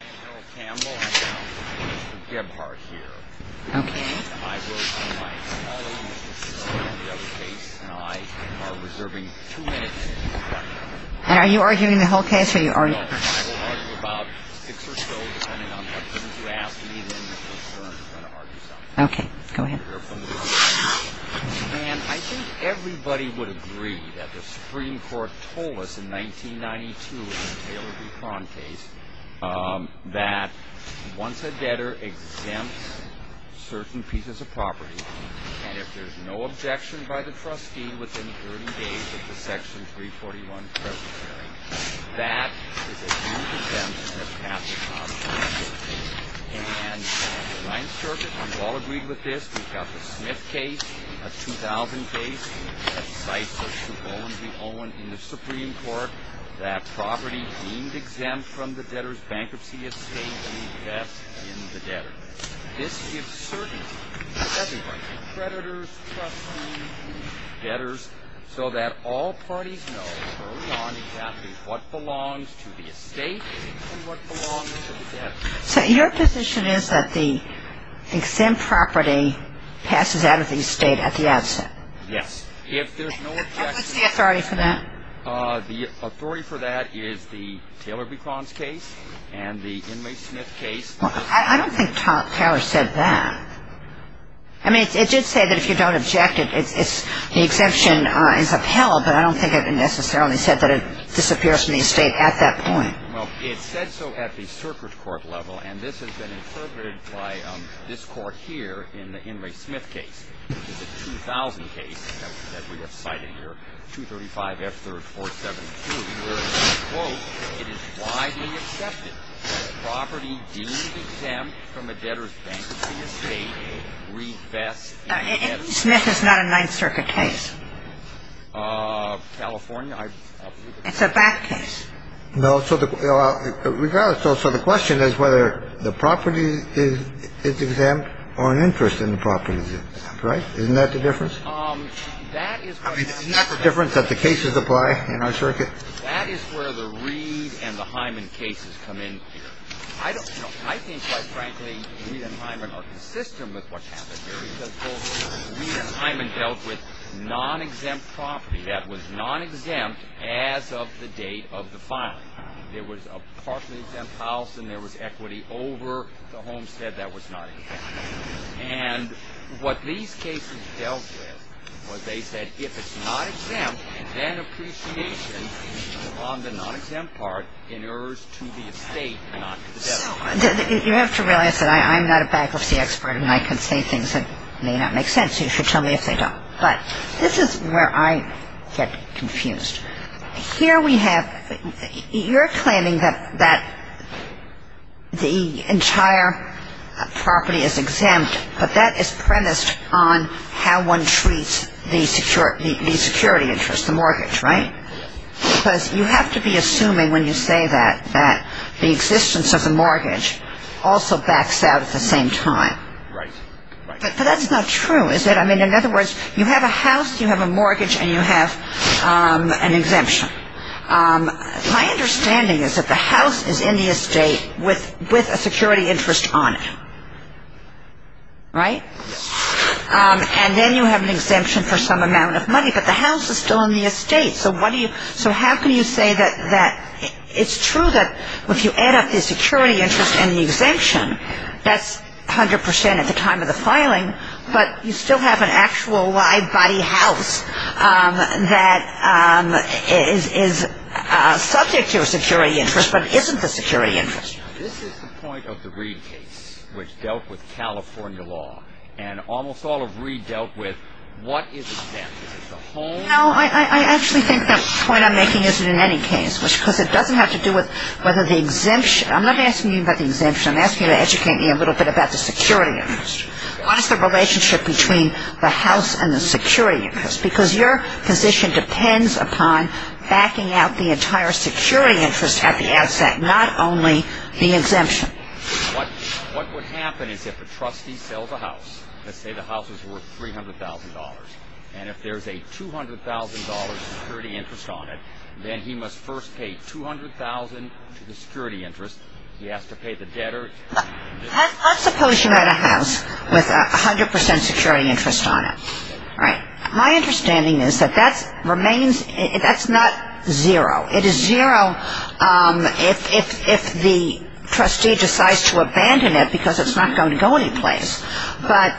I am Harold Campbell and Mr. Gebhardt here. I will be my colleague in the case and I am reserving two minutes. And are you arguing the whole case? I will argue about six or so, depending on what things you ask of me. Okay, go ahead. And I think everybody would agree that the Supreme Court told us in 1992, in the Taylor v. Prawn case, that once a debtor exempts certain pieces of property, and if there's no objection by the trustee within 30 days of the Section 341 presidential hearing, that is a huge exemption that has to come. And in the Ninth Circuit, we've all agreed with this. We've got the Smith case, a 2000 case, that cites Mr. Bowen v. Owen in the Supreme Court, that property deemed exempt from the debtor's bankruptcy estate will be left in the debtor. This gives certainty to everybody, creditors, trustees, debtors, so that all parties know early on exactly what belongs to the estate and what belongs to the debtor. So your position is that the exempt property passes out of the estate at the outset? Yes. And what's the authority for that? The authority for that is the Taylor v. Prawns case and the Inmate Smith case. I don't think Taylor said that. I mean, it did say that if you don't object, the exemption is upheld, but I don't think it necessarily said that it disappears from the estate at that point. Well, it said so at the circuit court level, and this has been interpreted by this Court here in the Inmate Smith case. It's a 2000 case that we have cited here, 235 F. 3rd 472, where it says, quote, it is widely accepted that property deemed exempt from a debtor's bankruptcy estate will be left in the debtor. Smith is not a Ninth Circuit case. California? It's a back case. No. So the question is whether the property is exempt or an interest in the property is exempt. Right. Isn't that the difference? Isn't that the difference that the cases apply in our circuit? That is where the Reed and the Hyman cases come in here. I don't know. I think, quite frankly, Reed and Hyman are consistent with what's happened here because, quote, that was non-exempt as of the date of the filing. There was a partially exempt house, and there was equity over the homestead that was not exempt. And what these cases dealt with was they said if it's not exempt, then appreciation on the non-exempt part inheres to the estate not to the debtor. You have to realize that I'm not a bankruptcy expert, and I can say things that may not make sense. You should tell me if they don't. But this is where I get confused. Here we have you're claiming that the entire property is exempt, but that is premised on how one treats the security interest, the mortgage, right? Because you have to be assuming when you say that that the existence of the mortgage also backs out at the same time. Right. Right. That's not true, is it? I mean, in other words, you have a house, you have a mortgage, and you have an exemption. My understanding is that the house is in the estate with a security interest on it. Right? And then you have an exemption for some amount of money, but the house is still in the estate. So how can you say that it's true that if you add up the security interest and the exemption, that's 100 percent at the time of the filing, but you still have an actual live body house that is subject to a security interest but isn't the security interest? This is the point of the Reid case, which dealt with California law. And almost all of Reid dealt with what is exempt. Is it the home? No, I actually think that point I'm making isn't in any case, because it doesn't have to do with whether the exemption – I'm not asking you about the exemption. I'm asking you to educate me a little bit about the security interest. What is the relationship between the house and the security interest? Because your position depends upon backing out the entire security interest at the outset, not only the exemption. What would happen is if a trustee sells a house, let's say the house is worth $300,000, and if there's a $200,000 security interest on it, then he must first pay $200,000 to the security interest. He has to pay the debtor. Let's suppose you had a house with 100 percent security interest on it. My understanding is that that remains – that's not zero. It is zero if the trustee decides to abandon it because it's not going to go anyplace. But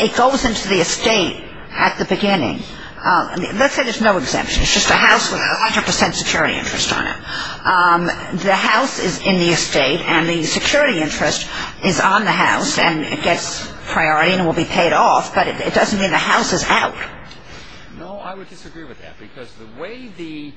it goes into the estate at the beginning. Let's say there's no exemption. It's just a house with 100 percent security interest on it. The house is in the estate, and the security interest is on the house, and it gets priority and will be paid off, but it doesn't mean the house is out. No, I would disagree with that, because the way the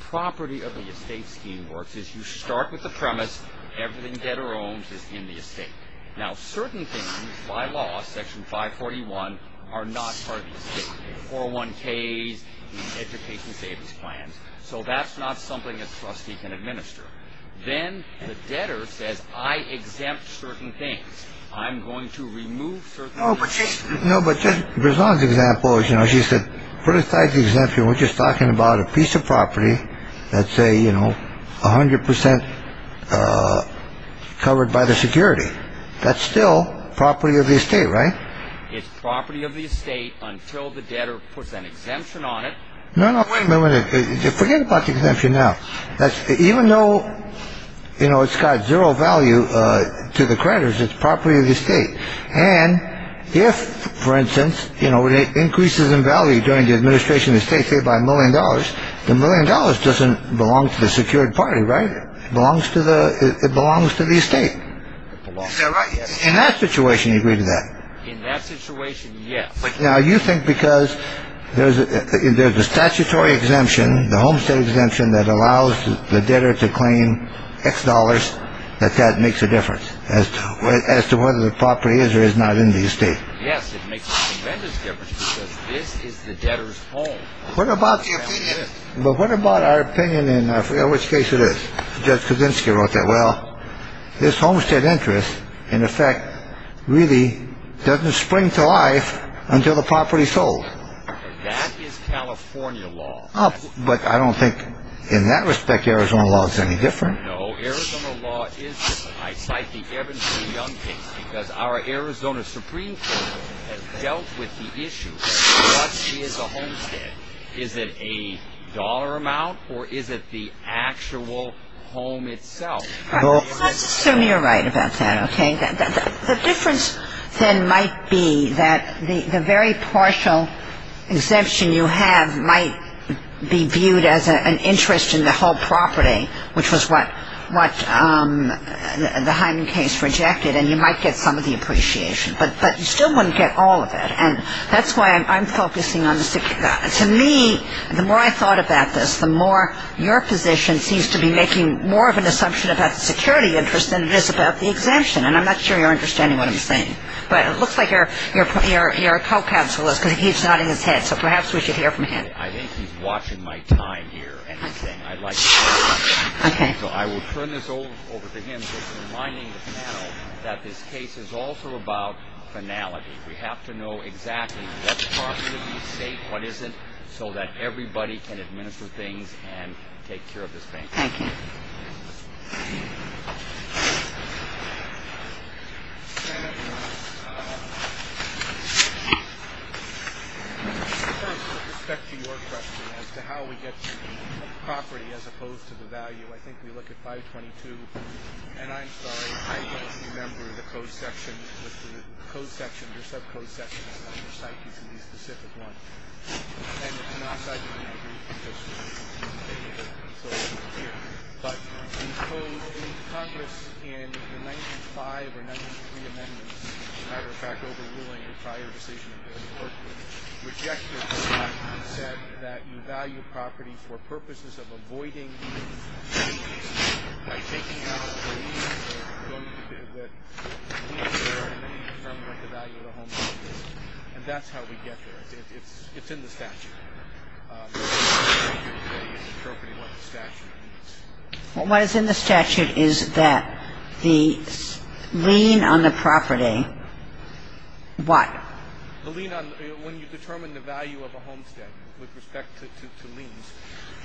property of the estate scheme works is you start with the premise everything debtor owns is in the estate. Now, certain things by law, Section 541, are not part of the estate. 401Ks, the education savings plans. So that's not something a trustee can administer. Then the debtor says, I exempt certain things. I'm going to remove certain things. No, but Judge Brisson's example is, you know, she said, put aside the exemption. We're just talking about a piece of property that's, say, you know, 100 percent covered by the security. That's still property of the estate, right? It's property of the estate until the debtor puts an exemption on it. No, no, wait a minute. Forget about the exemption now. Even though, you know, it's got zero value to the creditors, it's property of the estate. And if, for instance, you know, it increases in value during the administration of the estate, say, by a million dollars, the million dollars doesn't belong to the secured party, right? It belongs to the estate. Is that right? In that situation, you agree to that? In that situation, yes. Now, you think because there's a statutory exemption, the homestead exemption, that allows the debtor to claim X dollars, that that makes a difference as to whether the property is or is not in the estate? Yes, it makes a tremendous difference because this is the debtor's home. But what about our opinion in which case it is? Judge Kuczynski wrote that. Well, this homestead interest, in effect, really doesn't spring to life until the property's sold. That is California law. But I don't think in that respect Arizona law is any different. No, Arizona law is different. I cite the Evans v. Young case because our Arizona Supreme Court has dealt with the issue of what is a homestead. Is it a dollar amount or is it the actual home itself? Let's assume you're right about that, okay? The difference then might be that the very partial exemption you have might be viewed as an interest in the whole property, which was what the Hyman case rejected, and you might get some of the appreciation. But you still wouldn't get all of it. And that's why I'm focusing on the security. To me, the more I thought about this, the more your position seems to be making more of an assumption about the security interest than it is about the exemption. And I'm not sure you're understanding what I'm saying. But it looks like your co-counsel is because he's nodding his head, so perhaps we should hear from him. I think he's watching my time here. So I will turn this over to him just reminding the panel that this case is also about finality. We have to know exactly what's possibly safe, what isn't, so that everybody can administer things and take care of this thing. Thank you. Thank you. But in Congress, in the 1905 or 1903 amendments, as a matter of fact, overruling the prior decision, which actually said that you value property for purposes of avoiding by taking out what you're going to do with the value of the home. And that's how we get there. It's in the statute. What is in the statute is that the lien on the property, what? The lien on the property, when you determine the value of a homestead with respect to liens,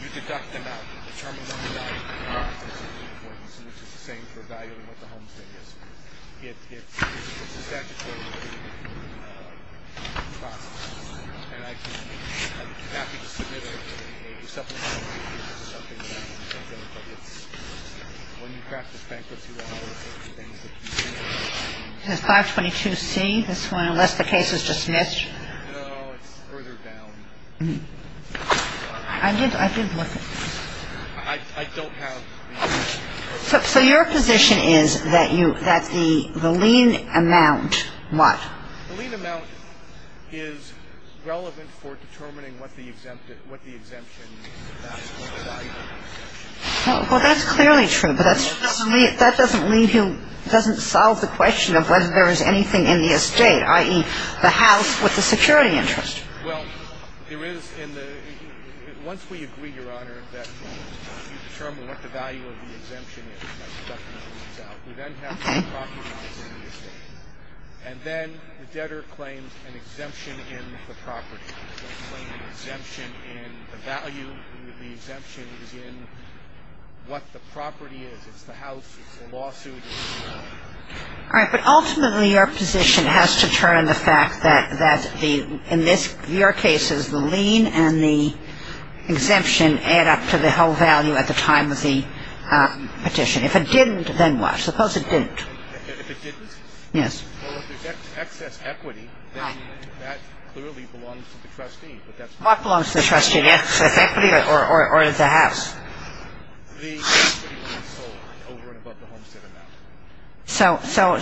you deduct them out. You determine the value. It's the same for valuing what the homestead is. It's 522C, this one, unless the case is dismissed. No, it's further down. I did look at it. I don't have the information. So your position is that the lien amount, what? The lien amount is relevant for determining what the exemption means, what the value of the exemption is. Well, that's clearly true, but that doesn't leave you, doesn't solve the question of whether there is anything in the estate, i.e., the house with the security interest. Well, there is in the ‑‑ once we agree, Your Honor, that you determine what the value of the exemption is, by deducting the liens out, we then have to recognize it in the estate. And then the debtor claims an exemption in the property. They claim an exemption in the value. The exemption is in what the property is. It's the house. It's the lawsuit. All right. But ultimately, your position has to turn the fact that in your cases, the lien and the exemption add up to the whole value at the time of the petition. If it didn't, then what? Suppose it didn't. If it didn't? Yes. Well, if there's excess equity, then that clearly belongs to the trustee. What belongs to the trustee, the excess equity or the house? The excess equity when it's sold over and above the homestead amount. So there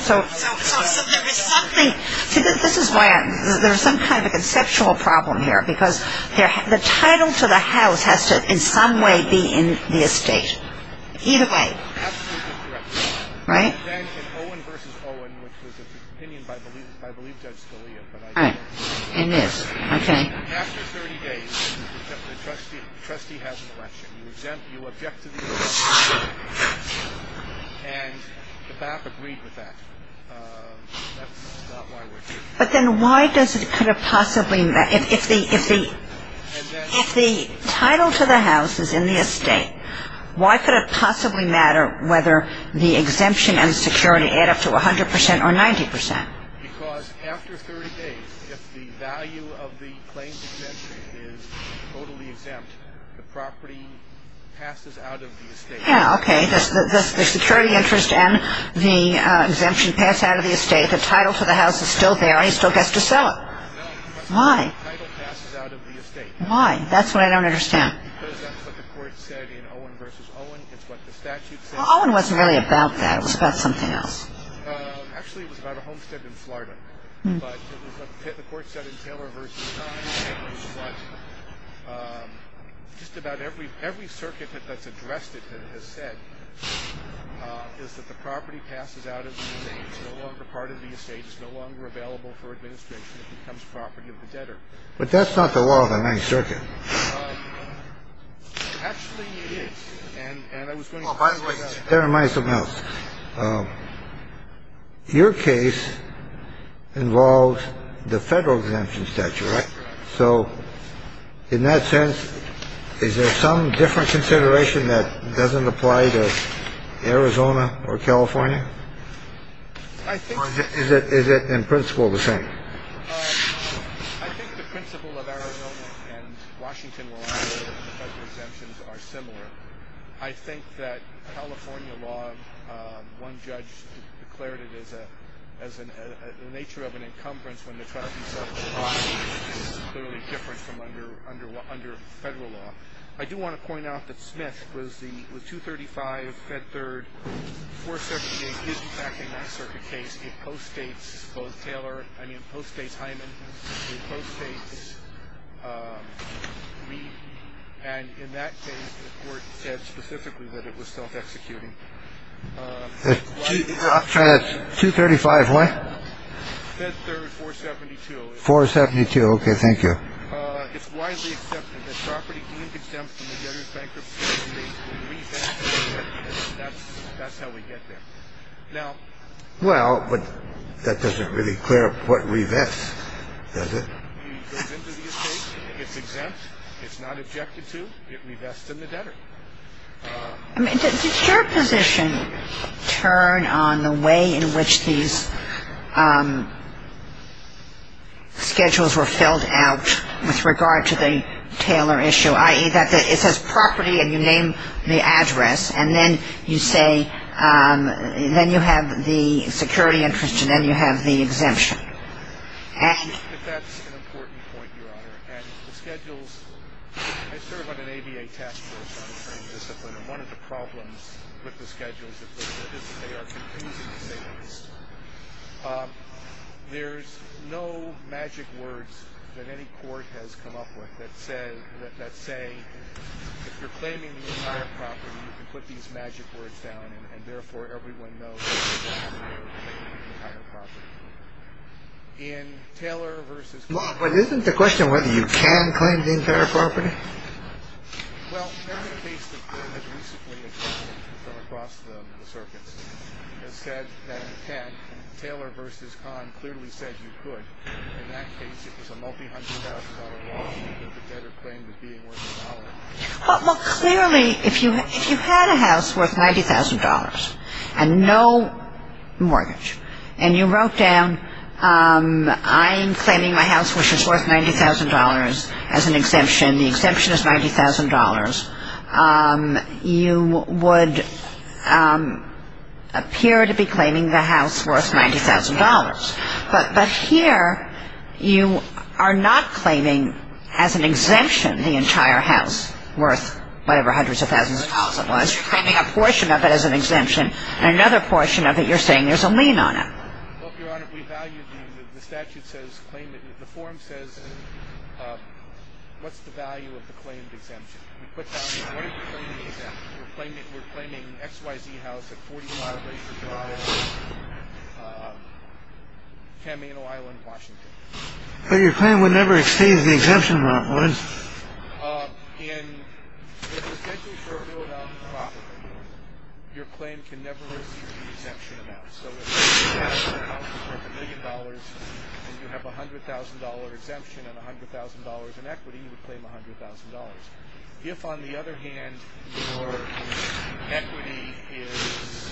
is something ‑‑ see, this is why there's some kind of a conceptual problem here, because the title to the house has to in some way be in the estate. Either way. Absolutely correct. Right? Then in Owen v. Owen, which was an opinion by, I believe, Judge Scalia, but I can't remember. It is. Okay. After 30 days, the trustee has an election. You object to the election. And the BAP agreed with that. That's not why we're here. But then why does it could have possibly ‑‑ if the title to the house is in the estate, why could it possibly matter whether the exemption and security add up to 100% or 90%? Because after 30 days, if the value of the claims exemption is totally exempt, the property passes out of the estate. Yeah, okay. The security interest and the exemption pass out of the estate. The title to the house is still there, and he still has to sell it. No. Why? The title passes out of the estate. Why? That's what I don't understand. Because that's what the court said in Owen v. Owen. It's what the statute said. Well, Owen wasn't really about that. It was about something else. Actually, it was about a homestead in Florida. But the court said in Taylor v. Times that just about every circuit that's addressed it has said is that the property passes out of the estate. It's no longer part of the estate. It's no longer available for administration. It becomes property of the debtor. But that's not the law of the ninth circuit. Actually, it is. By the way, that reminds me of something else. Your case involves the federal exemption statute, right? So in that sense, is there some different consideration that doesn't apply to Arizona or California? Or is it in principle the same? I think the principle of Arizona and Washington, where the federal exemptions are similar. I think that California law, one judge declared it as the nature of an encumbrance when the traffic is clearly different from under federal law. I do want to point out that Smith with 235, Fed Third, 478 is, in fact, a ninth circuit case. It postdates both Taylor, I mean, postdates Hyman. It postdates Reed. And in that case, the court said specifically that it was self-executing. 235 what? Fed Third, 472. 472. OK, thank you. It's widely accepted that property deemed exempt from the debtor's bankruptcy will be re-exempted. That's how we get there. Well, but that doesn't really clear up what revests, does it? It goes into the estate. It's exempt. It's not objected to. It revests in the debtor. I mean, does your position turn on the way in which these schedules were filled out with regard to the Taylor issue, i.e., that it says property and you name the address, and then you say then you have the security interest and then you have the exemption? That's an important point, Your Honor. And the schedules, I serve on an ABA task force on the same discipline, and one of the problems with the schedules is that they are confusing schedules. There's no magic words that any court has come up with that say if you're claiming the entire property, you can put these magic words down, and therefore everyone knows that you can't claim the entire property. In Taylor v. Kahn, Well, but isn't the question whether you can claim the entire property? Well, every case that has recently occurred from across the circuits has said that you can. Taylor v. Kahn clearly said you could. In that case, it was a multi-hundred-thousand-dollar lawsuit that the debtor claimed as being worth a dollar. Well, clearly, if you had a house worth $90,000 and no mortgage, and you wrote down I'm claiming my house which is worth $90,000 as an exemption, the exemption is $90,000, you would appear to be claiming the house worth $90,000. But here you are not claiming as an exemption the entire house worth whatever hundreds of thousands of dollars it was. You're claiming a portion of it as an exemption, and another portion of it you're saying there's a lien on it. Well, Your Honor, we value the statute says claim it. The form says what's the value of the claimed exemption. We put down what is the claim of the exemption. We're claiming we're claiming X, Y, Z. How's it? Camino Island, Washington. But your claim would never exceed the exemption. In your claim can never. And you have $100,000 exemption and $100,000 in equity. You would claim $100,000. If, on the other hand, your equity is,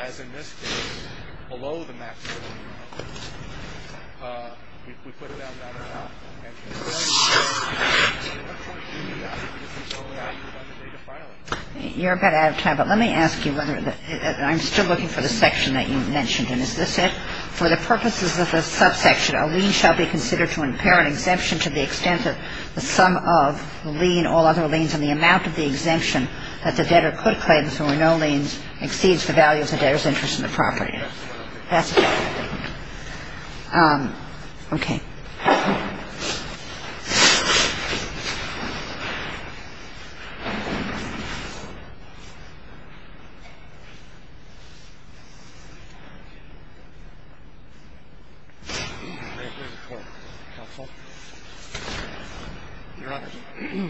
as in this case, below the maximum amount, we put down that amount. You're a bit out of time, but let me ask you whether I'm still looking for the section that you mentioned. And is this it? For the purposes of the subsection, a lien shall be considered to impair an exemption to the extent that the sum of the lien, all other liens, and the amount of the exemption that the debtor could claim if there were no liens, exceeds the value of the debtor's interest in the property. That's it. Okay. Your Honor,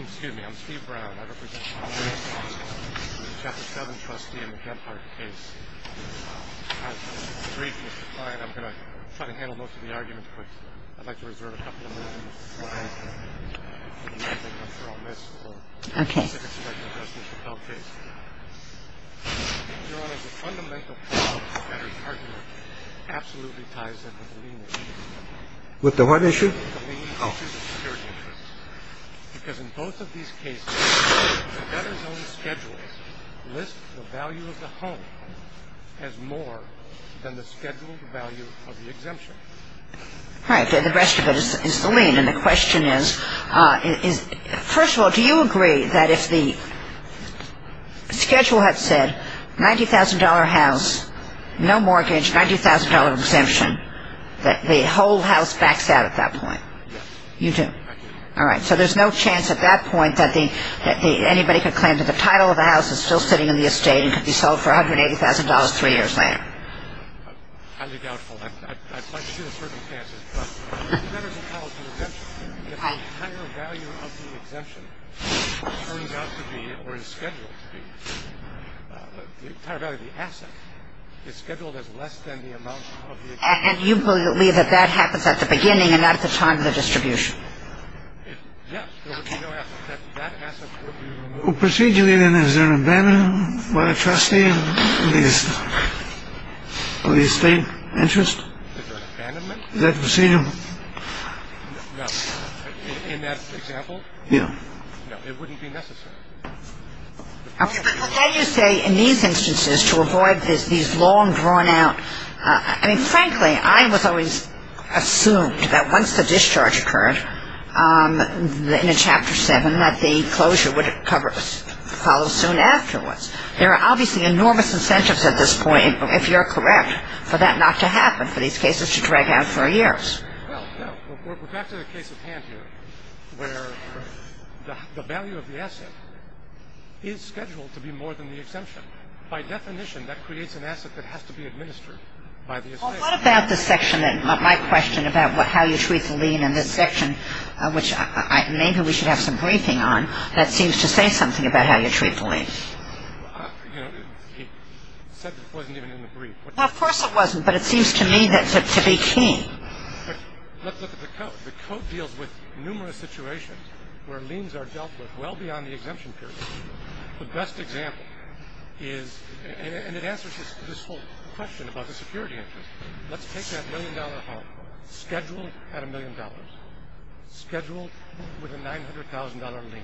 excuse me. I'm Steve Brown. I represent Chapter 7 trustee in the Genthardt case. I'm going to try to handle most of the arguments, but I'd like to reserve a couple of minutes. Okay. With the what issue? Oh. Because in both of these cases, the debtor's own schedules list the value of the home as more than the scheduled value of the exemption. Right. The rest of it is the lien. And the question is, first of all, do you agree that if the schedule had said $90,000 house, no mortgage, $90,000 exemption, that the whole house backs out at that point? Yes. You do? I do. All right. So there's no chance at that point that anybody could claim that the title of the house is still sitting in the estate and could be sold for $180,000 three years later? Highly doubtful. I'd like to see the circumstances, but the debtor's own title is an exemption. The entire value of the exemption turns out to be, or is scheduled to be, the entire value of the asset is scheduled as less than the amount of the exemption. And you believe that that happens at the beginning and not at the time of the distribution? Yes. Okay. There would be no asset. That asset would be removed. Procedurally, then, is there an abandonment by the trustee? In that example? Yeah. No. It wouldn't be necessary. Now you say in these instances, to avoid these long, drawn-out – I mean, frankly, I was always assumed that once the discharge occurred in Chapter 7, that the closure would follow soon afterwards. There are obviously enormous incentives at this point, if you're correct, for that not to happen, for these cases to drag out for years. Well, no. We're back to the case at hand here where the value of the asset is scheduled to be more than the exemption. By definition, that creates an asset that has to be administered by the estate. Well, what about this section, my question about how you treat the lien in this section, which maybe we should have some briefing on, that seems to say something about how you treat the lien. You know, he said it wasn't even in the brief. Well, of course it wasn't, but it seems to me to be key. Look at the code. The code deals with numerous situations where liens are dealt with well beyond the exemption period. The best example is – and it answers this whole question about the security interest. Let's take that million-dollar home, scheduled at a million dollars, scheduled with a $900,000 lien,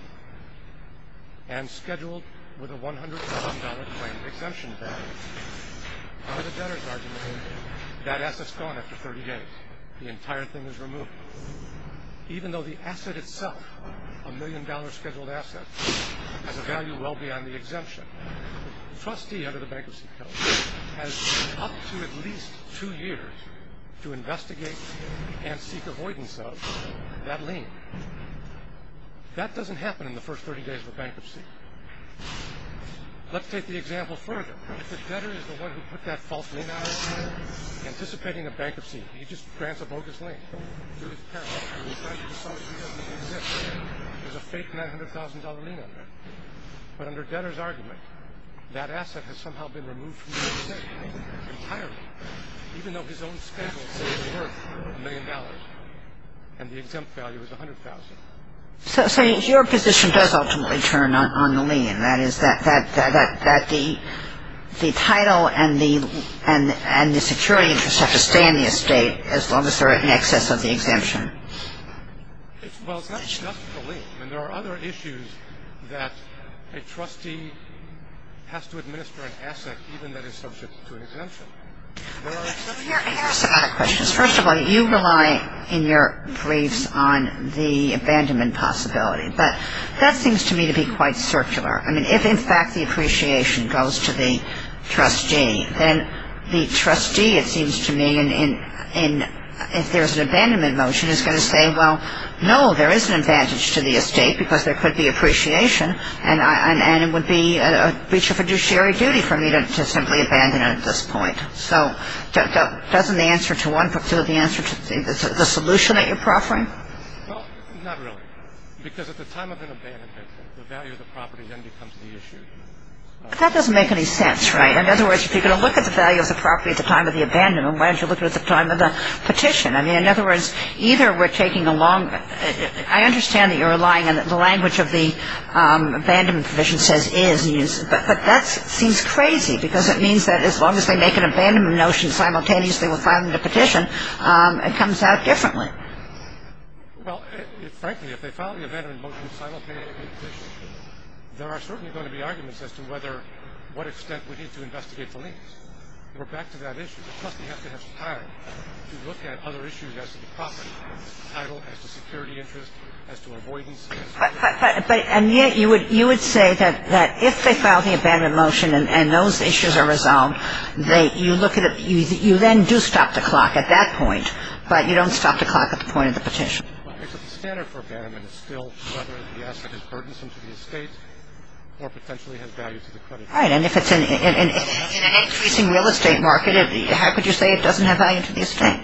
and scheduled with a $100,000 claim exemption value. Under the debtor's argument, that asset's gone after 30 days. The entire thing is removed. Even though the asset itself, a million-dollar scheduled asset, has a value well beyond the exemption, the trustee under the bankruptcy code has up to at least two years to investigate and seek avoidance of that lien. That doesn't happen in the first 30 days of a bankruptcy. Let's take the example further. If the debtor is the one who put that false lien out, anticipating a bankruptcy, he just grants a bogus lien. There's a parallel. He decides he doesn't need the exemption. There's a fake $900,000 lien on that. But under debtor's argument, that asset has somehow been removed from the estate entirely, even though his own schedule says it's worth a million dollars and the exempt value is $100,000. So your position does ultimately turn on the lien. That is, that the title and the security interest have to stay in the estate as long as they're in excess of the exemption. Well, it's not just the lien. I mean, there are other issues that a trustee has to administer an asset even that is subject to an exemption. There are exceptions. I have some other questions. First of all, you rely in your briefs on the abandonment possibility. But that seems to me to be quite circular. I mean, if, in fact, the appreciation goes to the trustee, then the trustee, it seems to me, if there's an abandonment motion, is going to say, well, no, there is an advantage to the estate because there could be appreciation, and it would be a breach of fiduciary duty for me to simply abandon it at this point. So doesn't the answer to the solution that you're proffering? Well, not really, because at the time of an abandonment, the value of the property then becomes the issue. That doesn't make any sense, right? In other words, if you're going to look at the value of the property at the time of the abandonment, why don't you look at it at the time of the petition? I mean, in other words, either we're taking a long – I understand that you're relying on the language of the abandonment provision says is, but that seems crazy because it means that as long as they make an abandonment motion simultaneously with filing the petition, it comes out differently. Well, frankly, if they file the abandonment motion simultaneously with the petition, there are certainly going to be arguments as to whether – what extent we need to investigate the links. We're back to that issue. The trustee has to have time to look at other issues as to the property, as to title, as to security interest, as to avoidance. But, and yet you would say that if they file the abandonment motion and those issues are resolved, you look at it – you then do stop the clock at that point, but you don't stop the clock at the point of the petition. It's a standard for abandonment. It's still whether the asset is burdensome to the estate or potentially has value to the creditors. All right. And if it's in an increasing real estate market, how could you say it doesn't have value to the estate?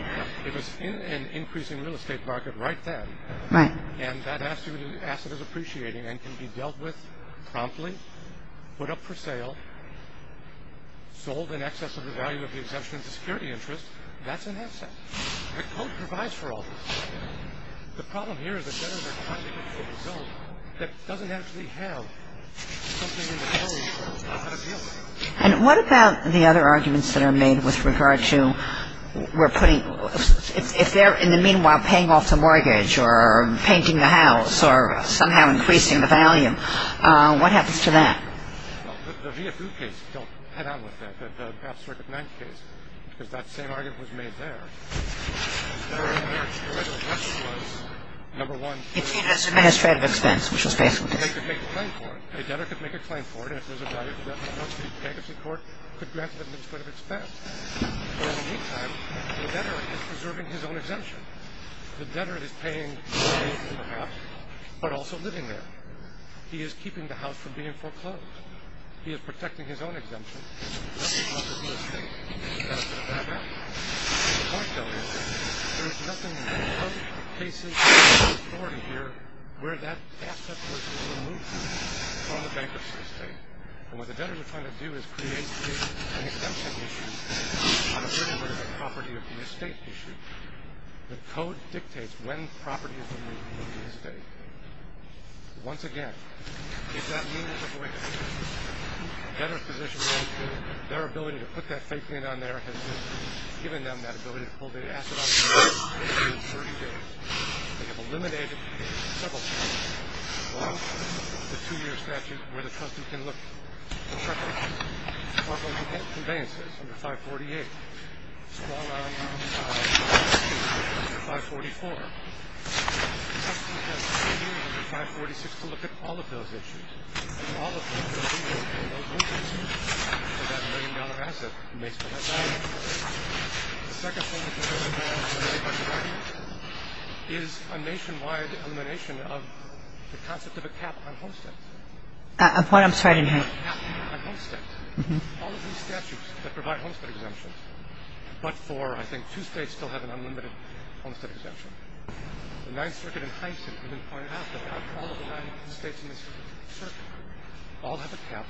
If it's in an increasing real estate market right then. Right. And that asset is appreciating and can be dealt with promptly, put up for sale, sold in excess of the value of the exemption to security interest, that's an asset. The code provides for all this. The problem here is the debtors are trying to get to a result that doesn't actually have something in the code that's got a deal with it. And what about the other arguments that are made with regard to we're putting – if they're in the meanwhile paying off the mortgage or painting the house or somehow increasing the value, what happens to that? Well, the VFU case, don't head on with that. Because that same argument was made there. Number one, a debtor could make a claim for it. A debtor could make a claim for it. And if there's a value to that mortgage, the court could grant them a split of expense. But in the meantime, the debtor is preserving his own exemption. The debtor is paying for the house but also living there. He is keeping the house from being foreclosed. He is protecting his own exemption. That's the cost of the estate. The point, though, is there is nothing in the code, the cases, the authority here where that asset was removed from the bankruptcy estate. And what the debtor is trying to do is create an exemption issue on a certain amount of property of the estate issue. The code dictates when property is removed from the estate. Once again, if that means a better position, their ability to put that fake in on there has given them that ability to pull the asset off the estate. They have eliminated several cases. One, the two-year statute where the trustee can look at property conveyances under 548. One, the two-year statute under 544. The trustee has three years under 546 to look at all of those issues. And all of those issues will be removed from those mortgages for that million-dollar asset that makes up that value. The second one, which is very important, is a nationwide elimination of the concept of a cap on homesteads. A point I'm starting here. All of these statutes that provide homestead exemptions, but for I think two states still have an unlimited homestead exemption. The Ninth Circuit in Hyndman pointed out that all of the states in this circuit all have a cap.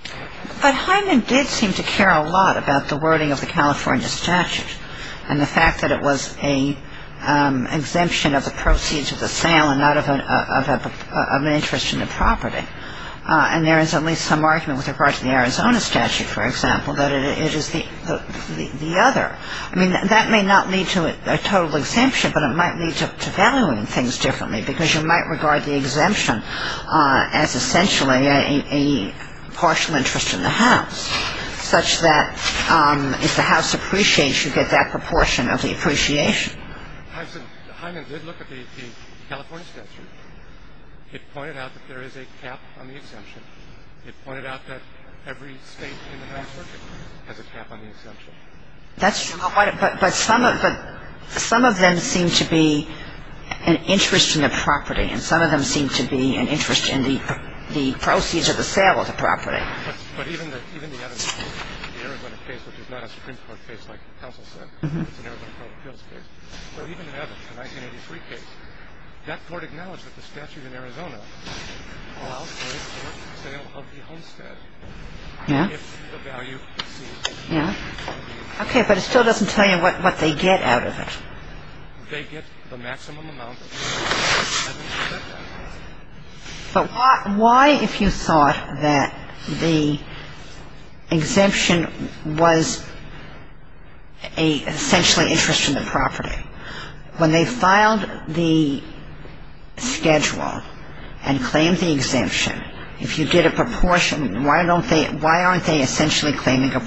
But Hyndman did seem to care a lot about the wording of the California statute and the fact that it was an exemption of the proceeds of the sale and not of an interest in the property. And there is at least some argument with regard to the Arizona statute, for example, that it is the other. I mean, that may not lead to a total exemption, but it might lead to valuing things differently because you might regard the exemption as essentially a partial interest in the house, such that if the house appreciates, you get that proportion of the appreciation. Hyndman did look at the California statute. It pointed out that there is a cap on the exemption. It pointed out that every state in the Ninth Circuit has a cap on the exemption. But some of them seem to be an interest in the property, and some of them seem to be an interest in the proceeds of the sale of the property. But even the other case, the Arizona case, which is not a Supreme Court case like the counsel said, it's an Arizona Court of Appeals case, but even the other, the 1983 case, that court acknowledged that the statute in Arizona allows for the sale of the homestead. Yes. If the value exceeds. Yes. Okay, but it still doesn't tell you what they get out of it. They get the maximum amount of the property. But why, if you thought that the exemption was essentially an interest in the property, when they filed the schedule and claimed the exemption, if you did a proportion, why aren't they essentially claiming at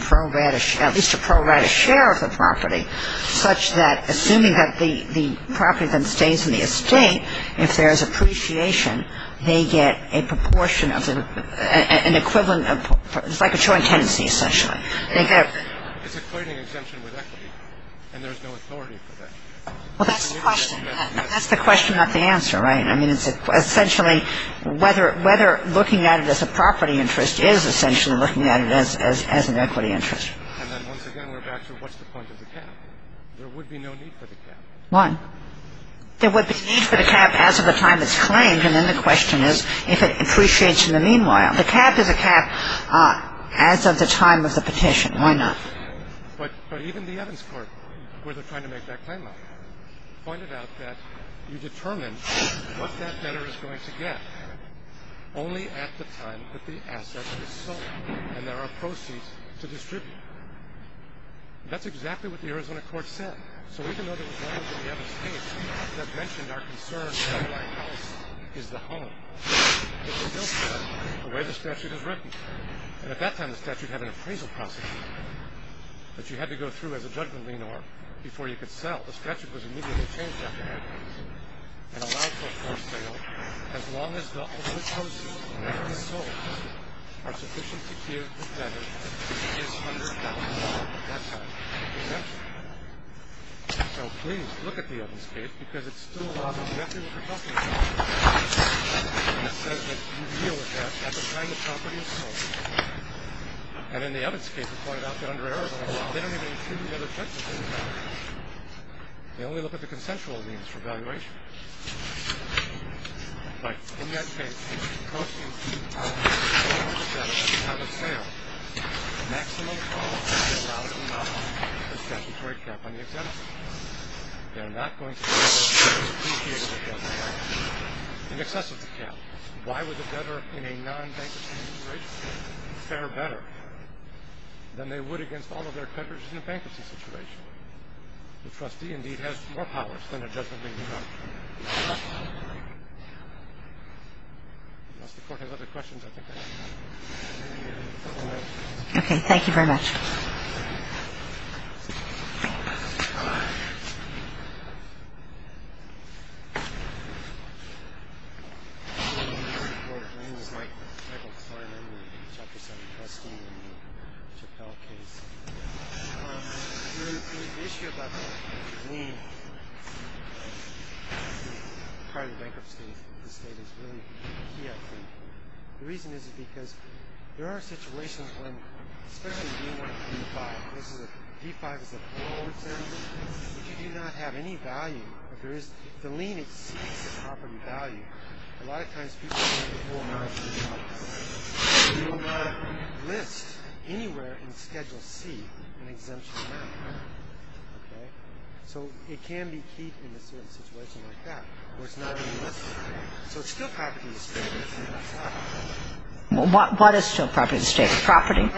least a pro rata share of the property, such that, assuming that the property then stays in the estate, if there is appreciation, they get a proportion of an equivalent of, it's like a joint tenancy, essentially. It's a claiming exemption with equity, and there's no authority for that. Well, that's the question. That's the question, not the answer, right? I mean, it's essentially whether looking at it as a property interest is essentially looking at it as an equity interest. And then once again, we're back to what's the point of the cap? There would be no need for the cap. Why? There would be no need for the cap as of the time it's claimed, and then the question is if it appreciates in the meanwhile. The cap is a cap as of the time of the petition. Why not? But even the Evans Court, where they're trying to make that claim out, pointed out that you determine what that debtor is going to get only at the time that the asset is sold and there are proceeds to distribute. That's exactly what the Arizona court said. So even though there was language in the Evans case that mentioned our concern that the White House is the home, it still said the way the statute is written. And at that time, the statute had an appraisal process that you had to go through as a judgment leaner before you could sell. The statute was immediately changed after that case and allowed for a forced sale as long as the ultimate proceeds are sold are sufficient to give the debtor his $100,000 at that time exempted. So please look at the Evans case because it still allows a method of adjustment. It says that you deal with that at the time the property is sold. And in the Evans case, it pointed out that under Arizona law, they only look at the consensual liens for valuation. But in that case, if the property is sold at the time of sale, the maximum cost is $1,000 per statutory cap on the exempted. They're not going to be able to depreciate the debtor in excess of the cap. Why would the debtor in a non-bankruptcy situation fare better than they would against all of their creditors in a bankruptcy situation? The trustee, indeed, has more powers than a judgment-leaning judge. Unless the Court has other questions, I think that's all. Okay, thank you very much. Hi. My name is Michael Klein. I'm a Chapter 7 trustee in the Chappell case. The issue about the lien, part of the bankruptcy state is really key, I think. The reason is because there are situations when, especially if you want a D-5. A D-5 is a payroll exemption. If you do not have any value, if the lien exceeds the property value, a lot of times people don't have the full amount of the property. You don't want to list anywhere in Schedule C an exemption amount. Okay? So it can be keyed in a certain situation like that where it's not even listed. So it's still property to state. What is still property to state? Property?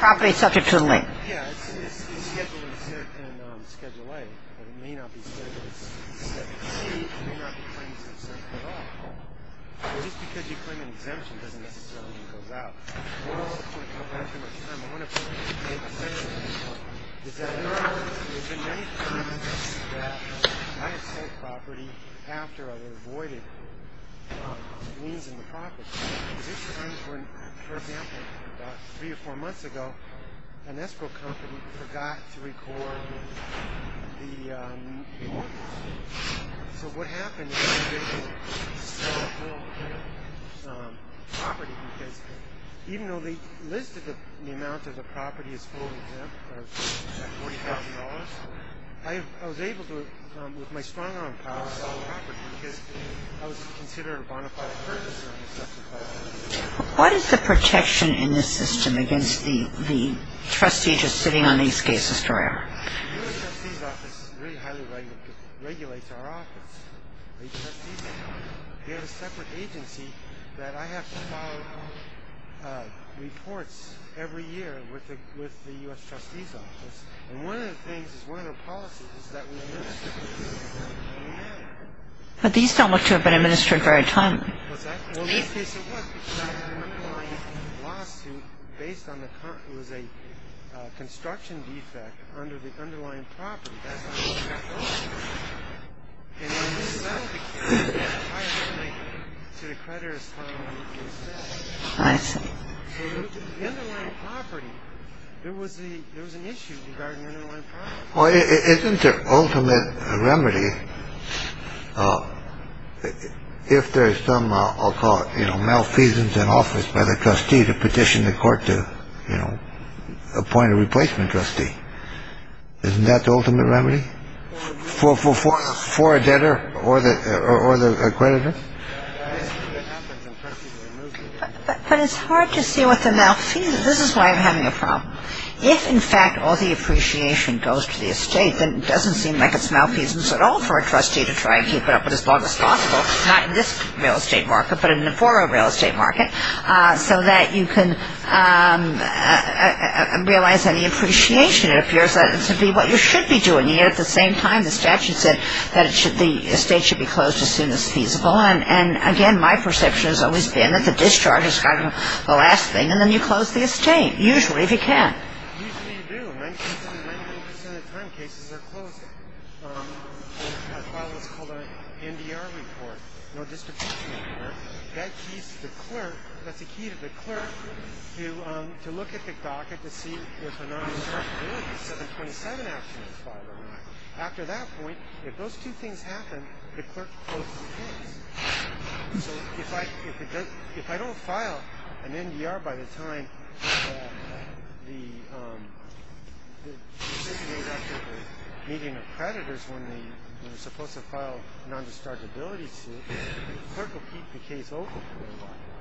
Property subject to the lien. Yes. It's scheduled in Schedule A, but it may not be scheduled in Schedule C. It may not be claimed in Schedule C at all. At least because you claim an exemption, it doesn't necessarily mean it goes out. I'm going to go back to my time. I want to make a comment. Is that there have been many times that I have sold property after I had avoided liens on the property. For example, about three or four months ago, an escrow company forgot to record the mortgage. So what happened is they didn't sell the full property because even though they listed the amount of the property as full exempt, or $40,000, I was able to, with my strong-arm power, sell the property because I was considered a bona fide person. What is the protection in this system against the trustee just sitting on these cases forever? The U.S. Trustee's Office really highly regulates our office. We have a separate agency that I have to file reports every year with the U.S. Trustee's Office. And one of the things is one of the policies is that we administer it. But these don't look to have been administered very timely. Well, in this case it was because I had an underlying lawsuit based on the fact that it was a construction defect under the underlying property. That's not what we got going. And when we sold the case, the entire company to the creditors filed a legal set. I see. So the underlying property, there was an issue regarding the underlying property. Well, isn't there ultimate remedy if there's some, I'll call it, you know, malfeasance in office by the trustee to petition the court to, you know, appoint a replacement trustee? Isn't that the ultimate remedy for a debtor or the creditor? But it's hard to see what the malfeasance is. This is why I'm having a problem. If, in fact, all the appreciation goes to the estate, then it doesn't seem like it's malfeasance at all for a trustee to try and keep it up as long as possible, not in this real estate market, but in the former real estate market, so that you can realize any appreciation. It appears to be what you should be doing. Yet at the same time, the statute said that the estate should be closed as soon as feasible. And, again, my perception has always been that the discharge is kind of the last thing, and then you close the estate, usually, if you can. Usually you do. Nineteen percent of the time, cases are closed. I filed what's called an NDR report, no distribution report. That keys to the clerk. That's a key to the clerk to look at the docket to see if a non-dischargeability 727 action is filed or not. After that point, if those two things happen, the clerk closes the case. So if I don't file an NDR by the time the decision is made after the meeting of creditors, when they're supposed to file a non-dischargeability suit, the clerk will keep the case open for a while.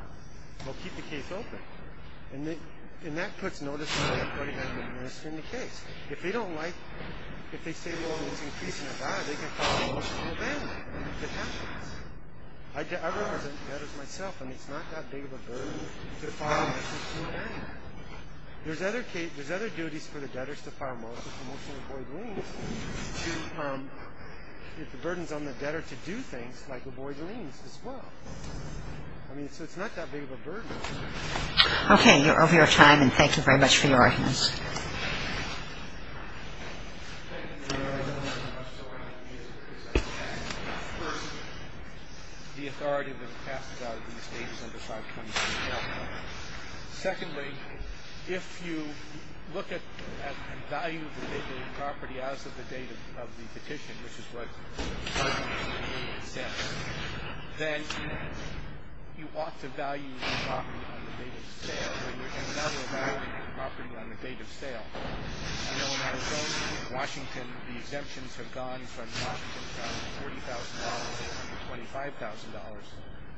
He'll keep the case open. And that puts notice to everybody who has been listed in the case. If they don't like it, if they say, well, it's increasing the value, they can file a motion to move in. It happens. I represent debtors myself, and it's not that big of a burden to file a motion to move in. There's other duties for the debtors to file a motion to avoid liens, if the burden's on the debtor to do things, like avoid liens as well. I mean, so it's not that big of a burden. Okay. You're over your time, and thank you very much for your audience. Thank you, Your Honor. I'm sorry to use it because I'm a tax attorney. First, the authority that passes out of these data is under 523L. Secondly, if you look at the value of the property as of the date of the petition, which is what the statute says, then you ought to value the property on the date of the sale, but you cannot evaluate the property on the date of sale. I know in Arizona, in Washington, the exemptions have gone from $40,000 to $25,000,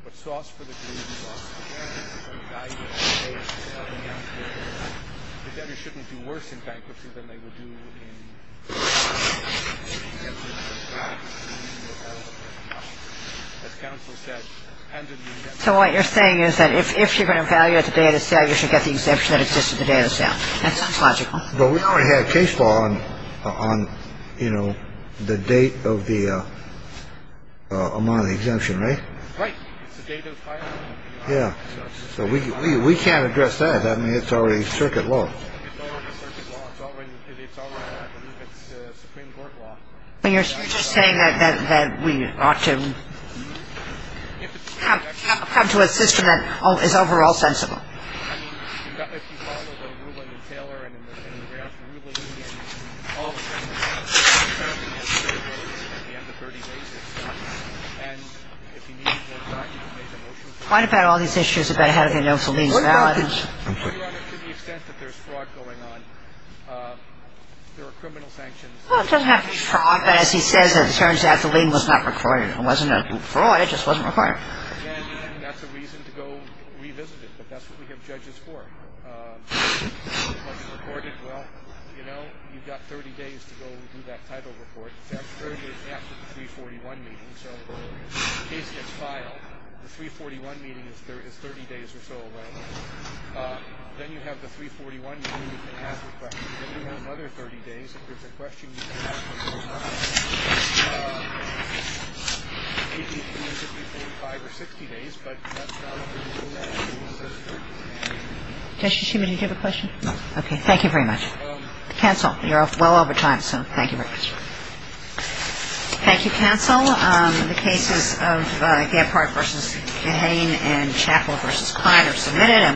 but sauce for the glue, sauce for the candy, is from the value of the date of the sale. The debtors shouldn't do worse in bankruptcy than they would do in bankruptcy. That sounds logical. But we already have case law on, you know, the date of the amount of the exemption, right? Right. It's the date of the filing. Yeah. So we can't address that. I mean, it's already circuit law. It's already circuit law. It's already, I believe it's Supreme Court law. I mean, you're just saying that we ought to come to a system that is overall sensible. I mean, if you follow the ruling in Taylor and in the grand ruling, and all of a sudden, all of a sudden, it's going to go in at the end of 30 days, it's done. And if you need more time, you can make a motion for it. What about all these issues about how the notes will be invalid? What about this? To the extent that there's fraud going on, there are criminal sanctions. Well, it doesn't have to be fraud. But as he says, it turns out the lien was not required. It wasn't a fraud. It just wasn't required. And that's a reason to go revisit it. But that's what we have judges for. If it wasn't recorded, well, you know, you've got 30 days to go do that title report. That's 30 days after the 341 meeting. So in case it gets filed, the 341 meeting is 30 days or so away. Then you have the 341 meeting, you can ask the question. If you want another 30 days, if there's a question, you can ask for more time. It depends if you pay five or 60 days, but that's not a particular statute. Justice Schumann, did you have a question? No. Okay. Thank you very much. Counsel, you're well over time, so thank you very much. Thank you, counsel. The cases of Gephardt v. Gahane and Chappell v. Kline are submitted.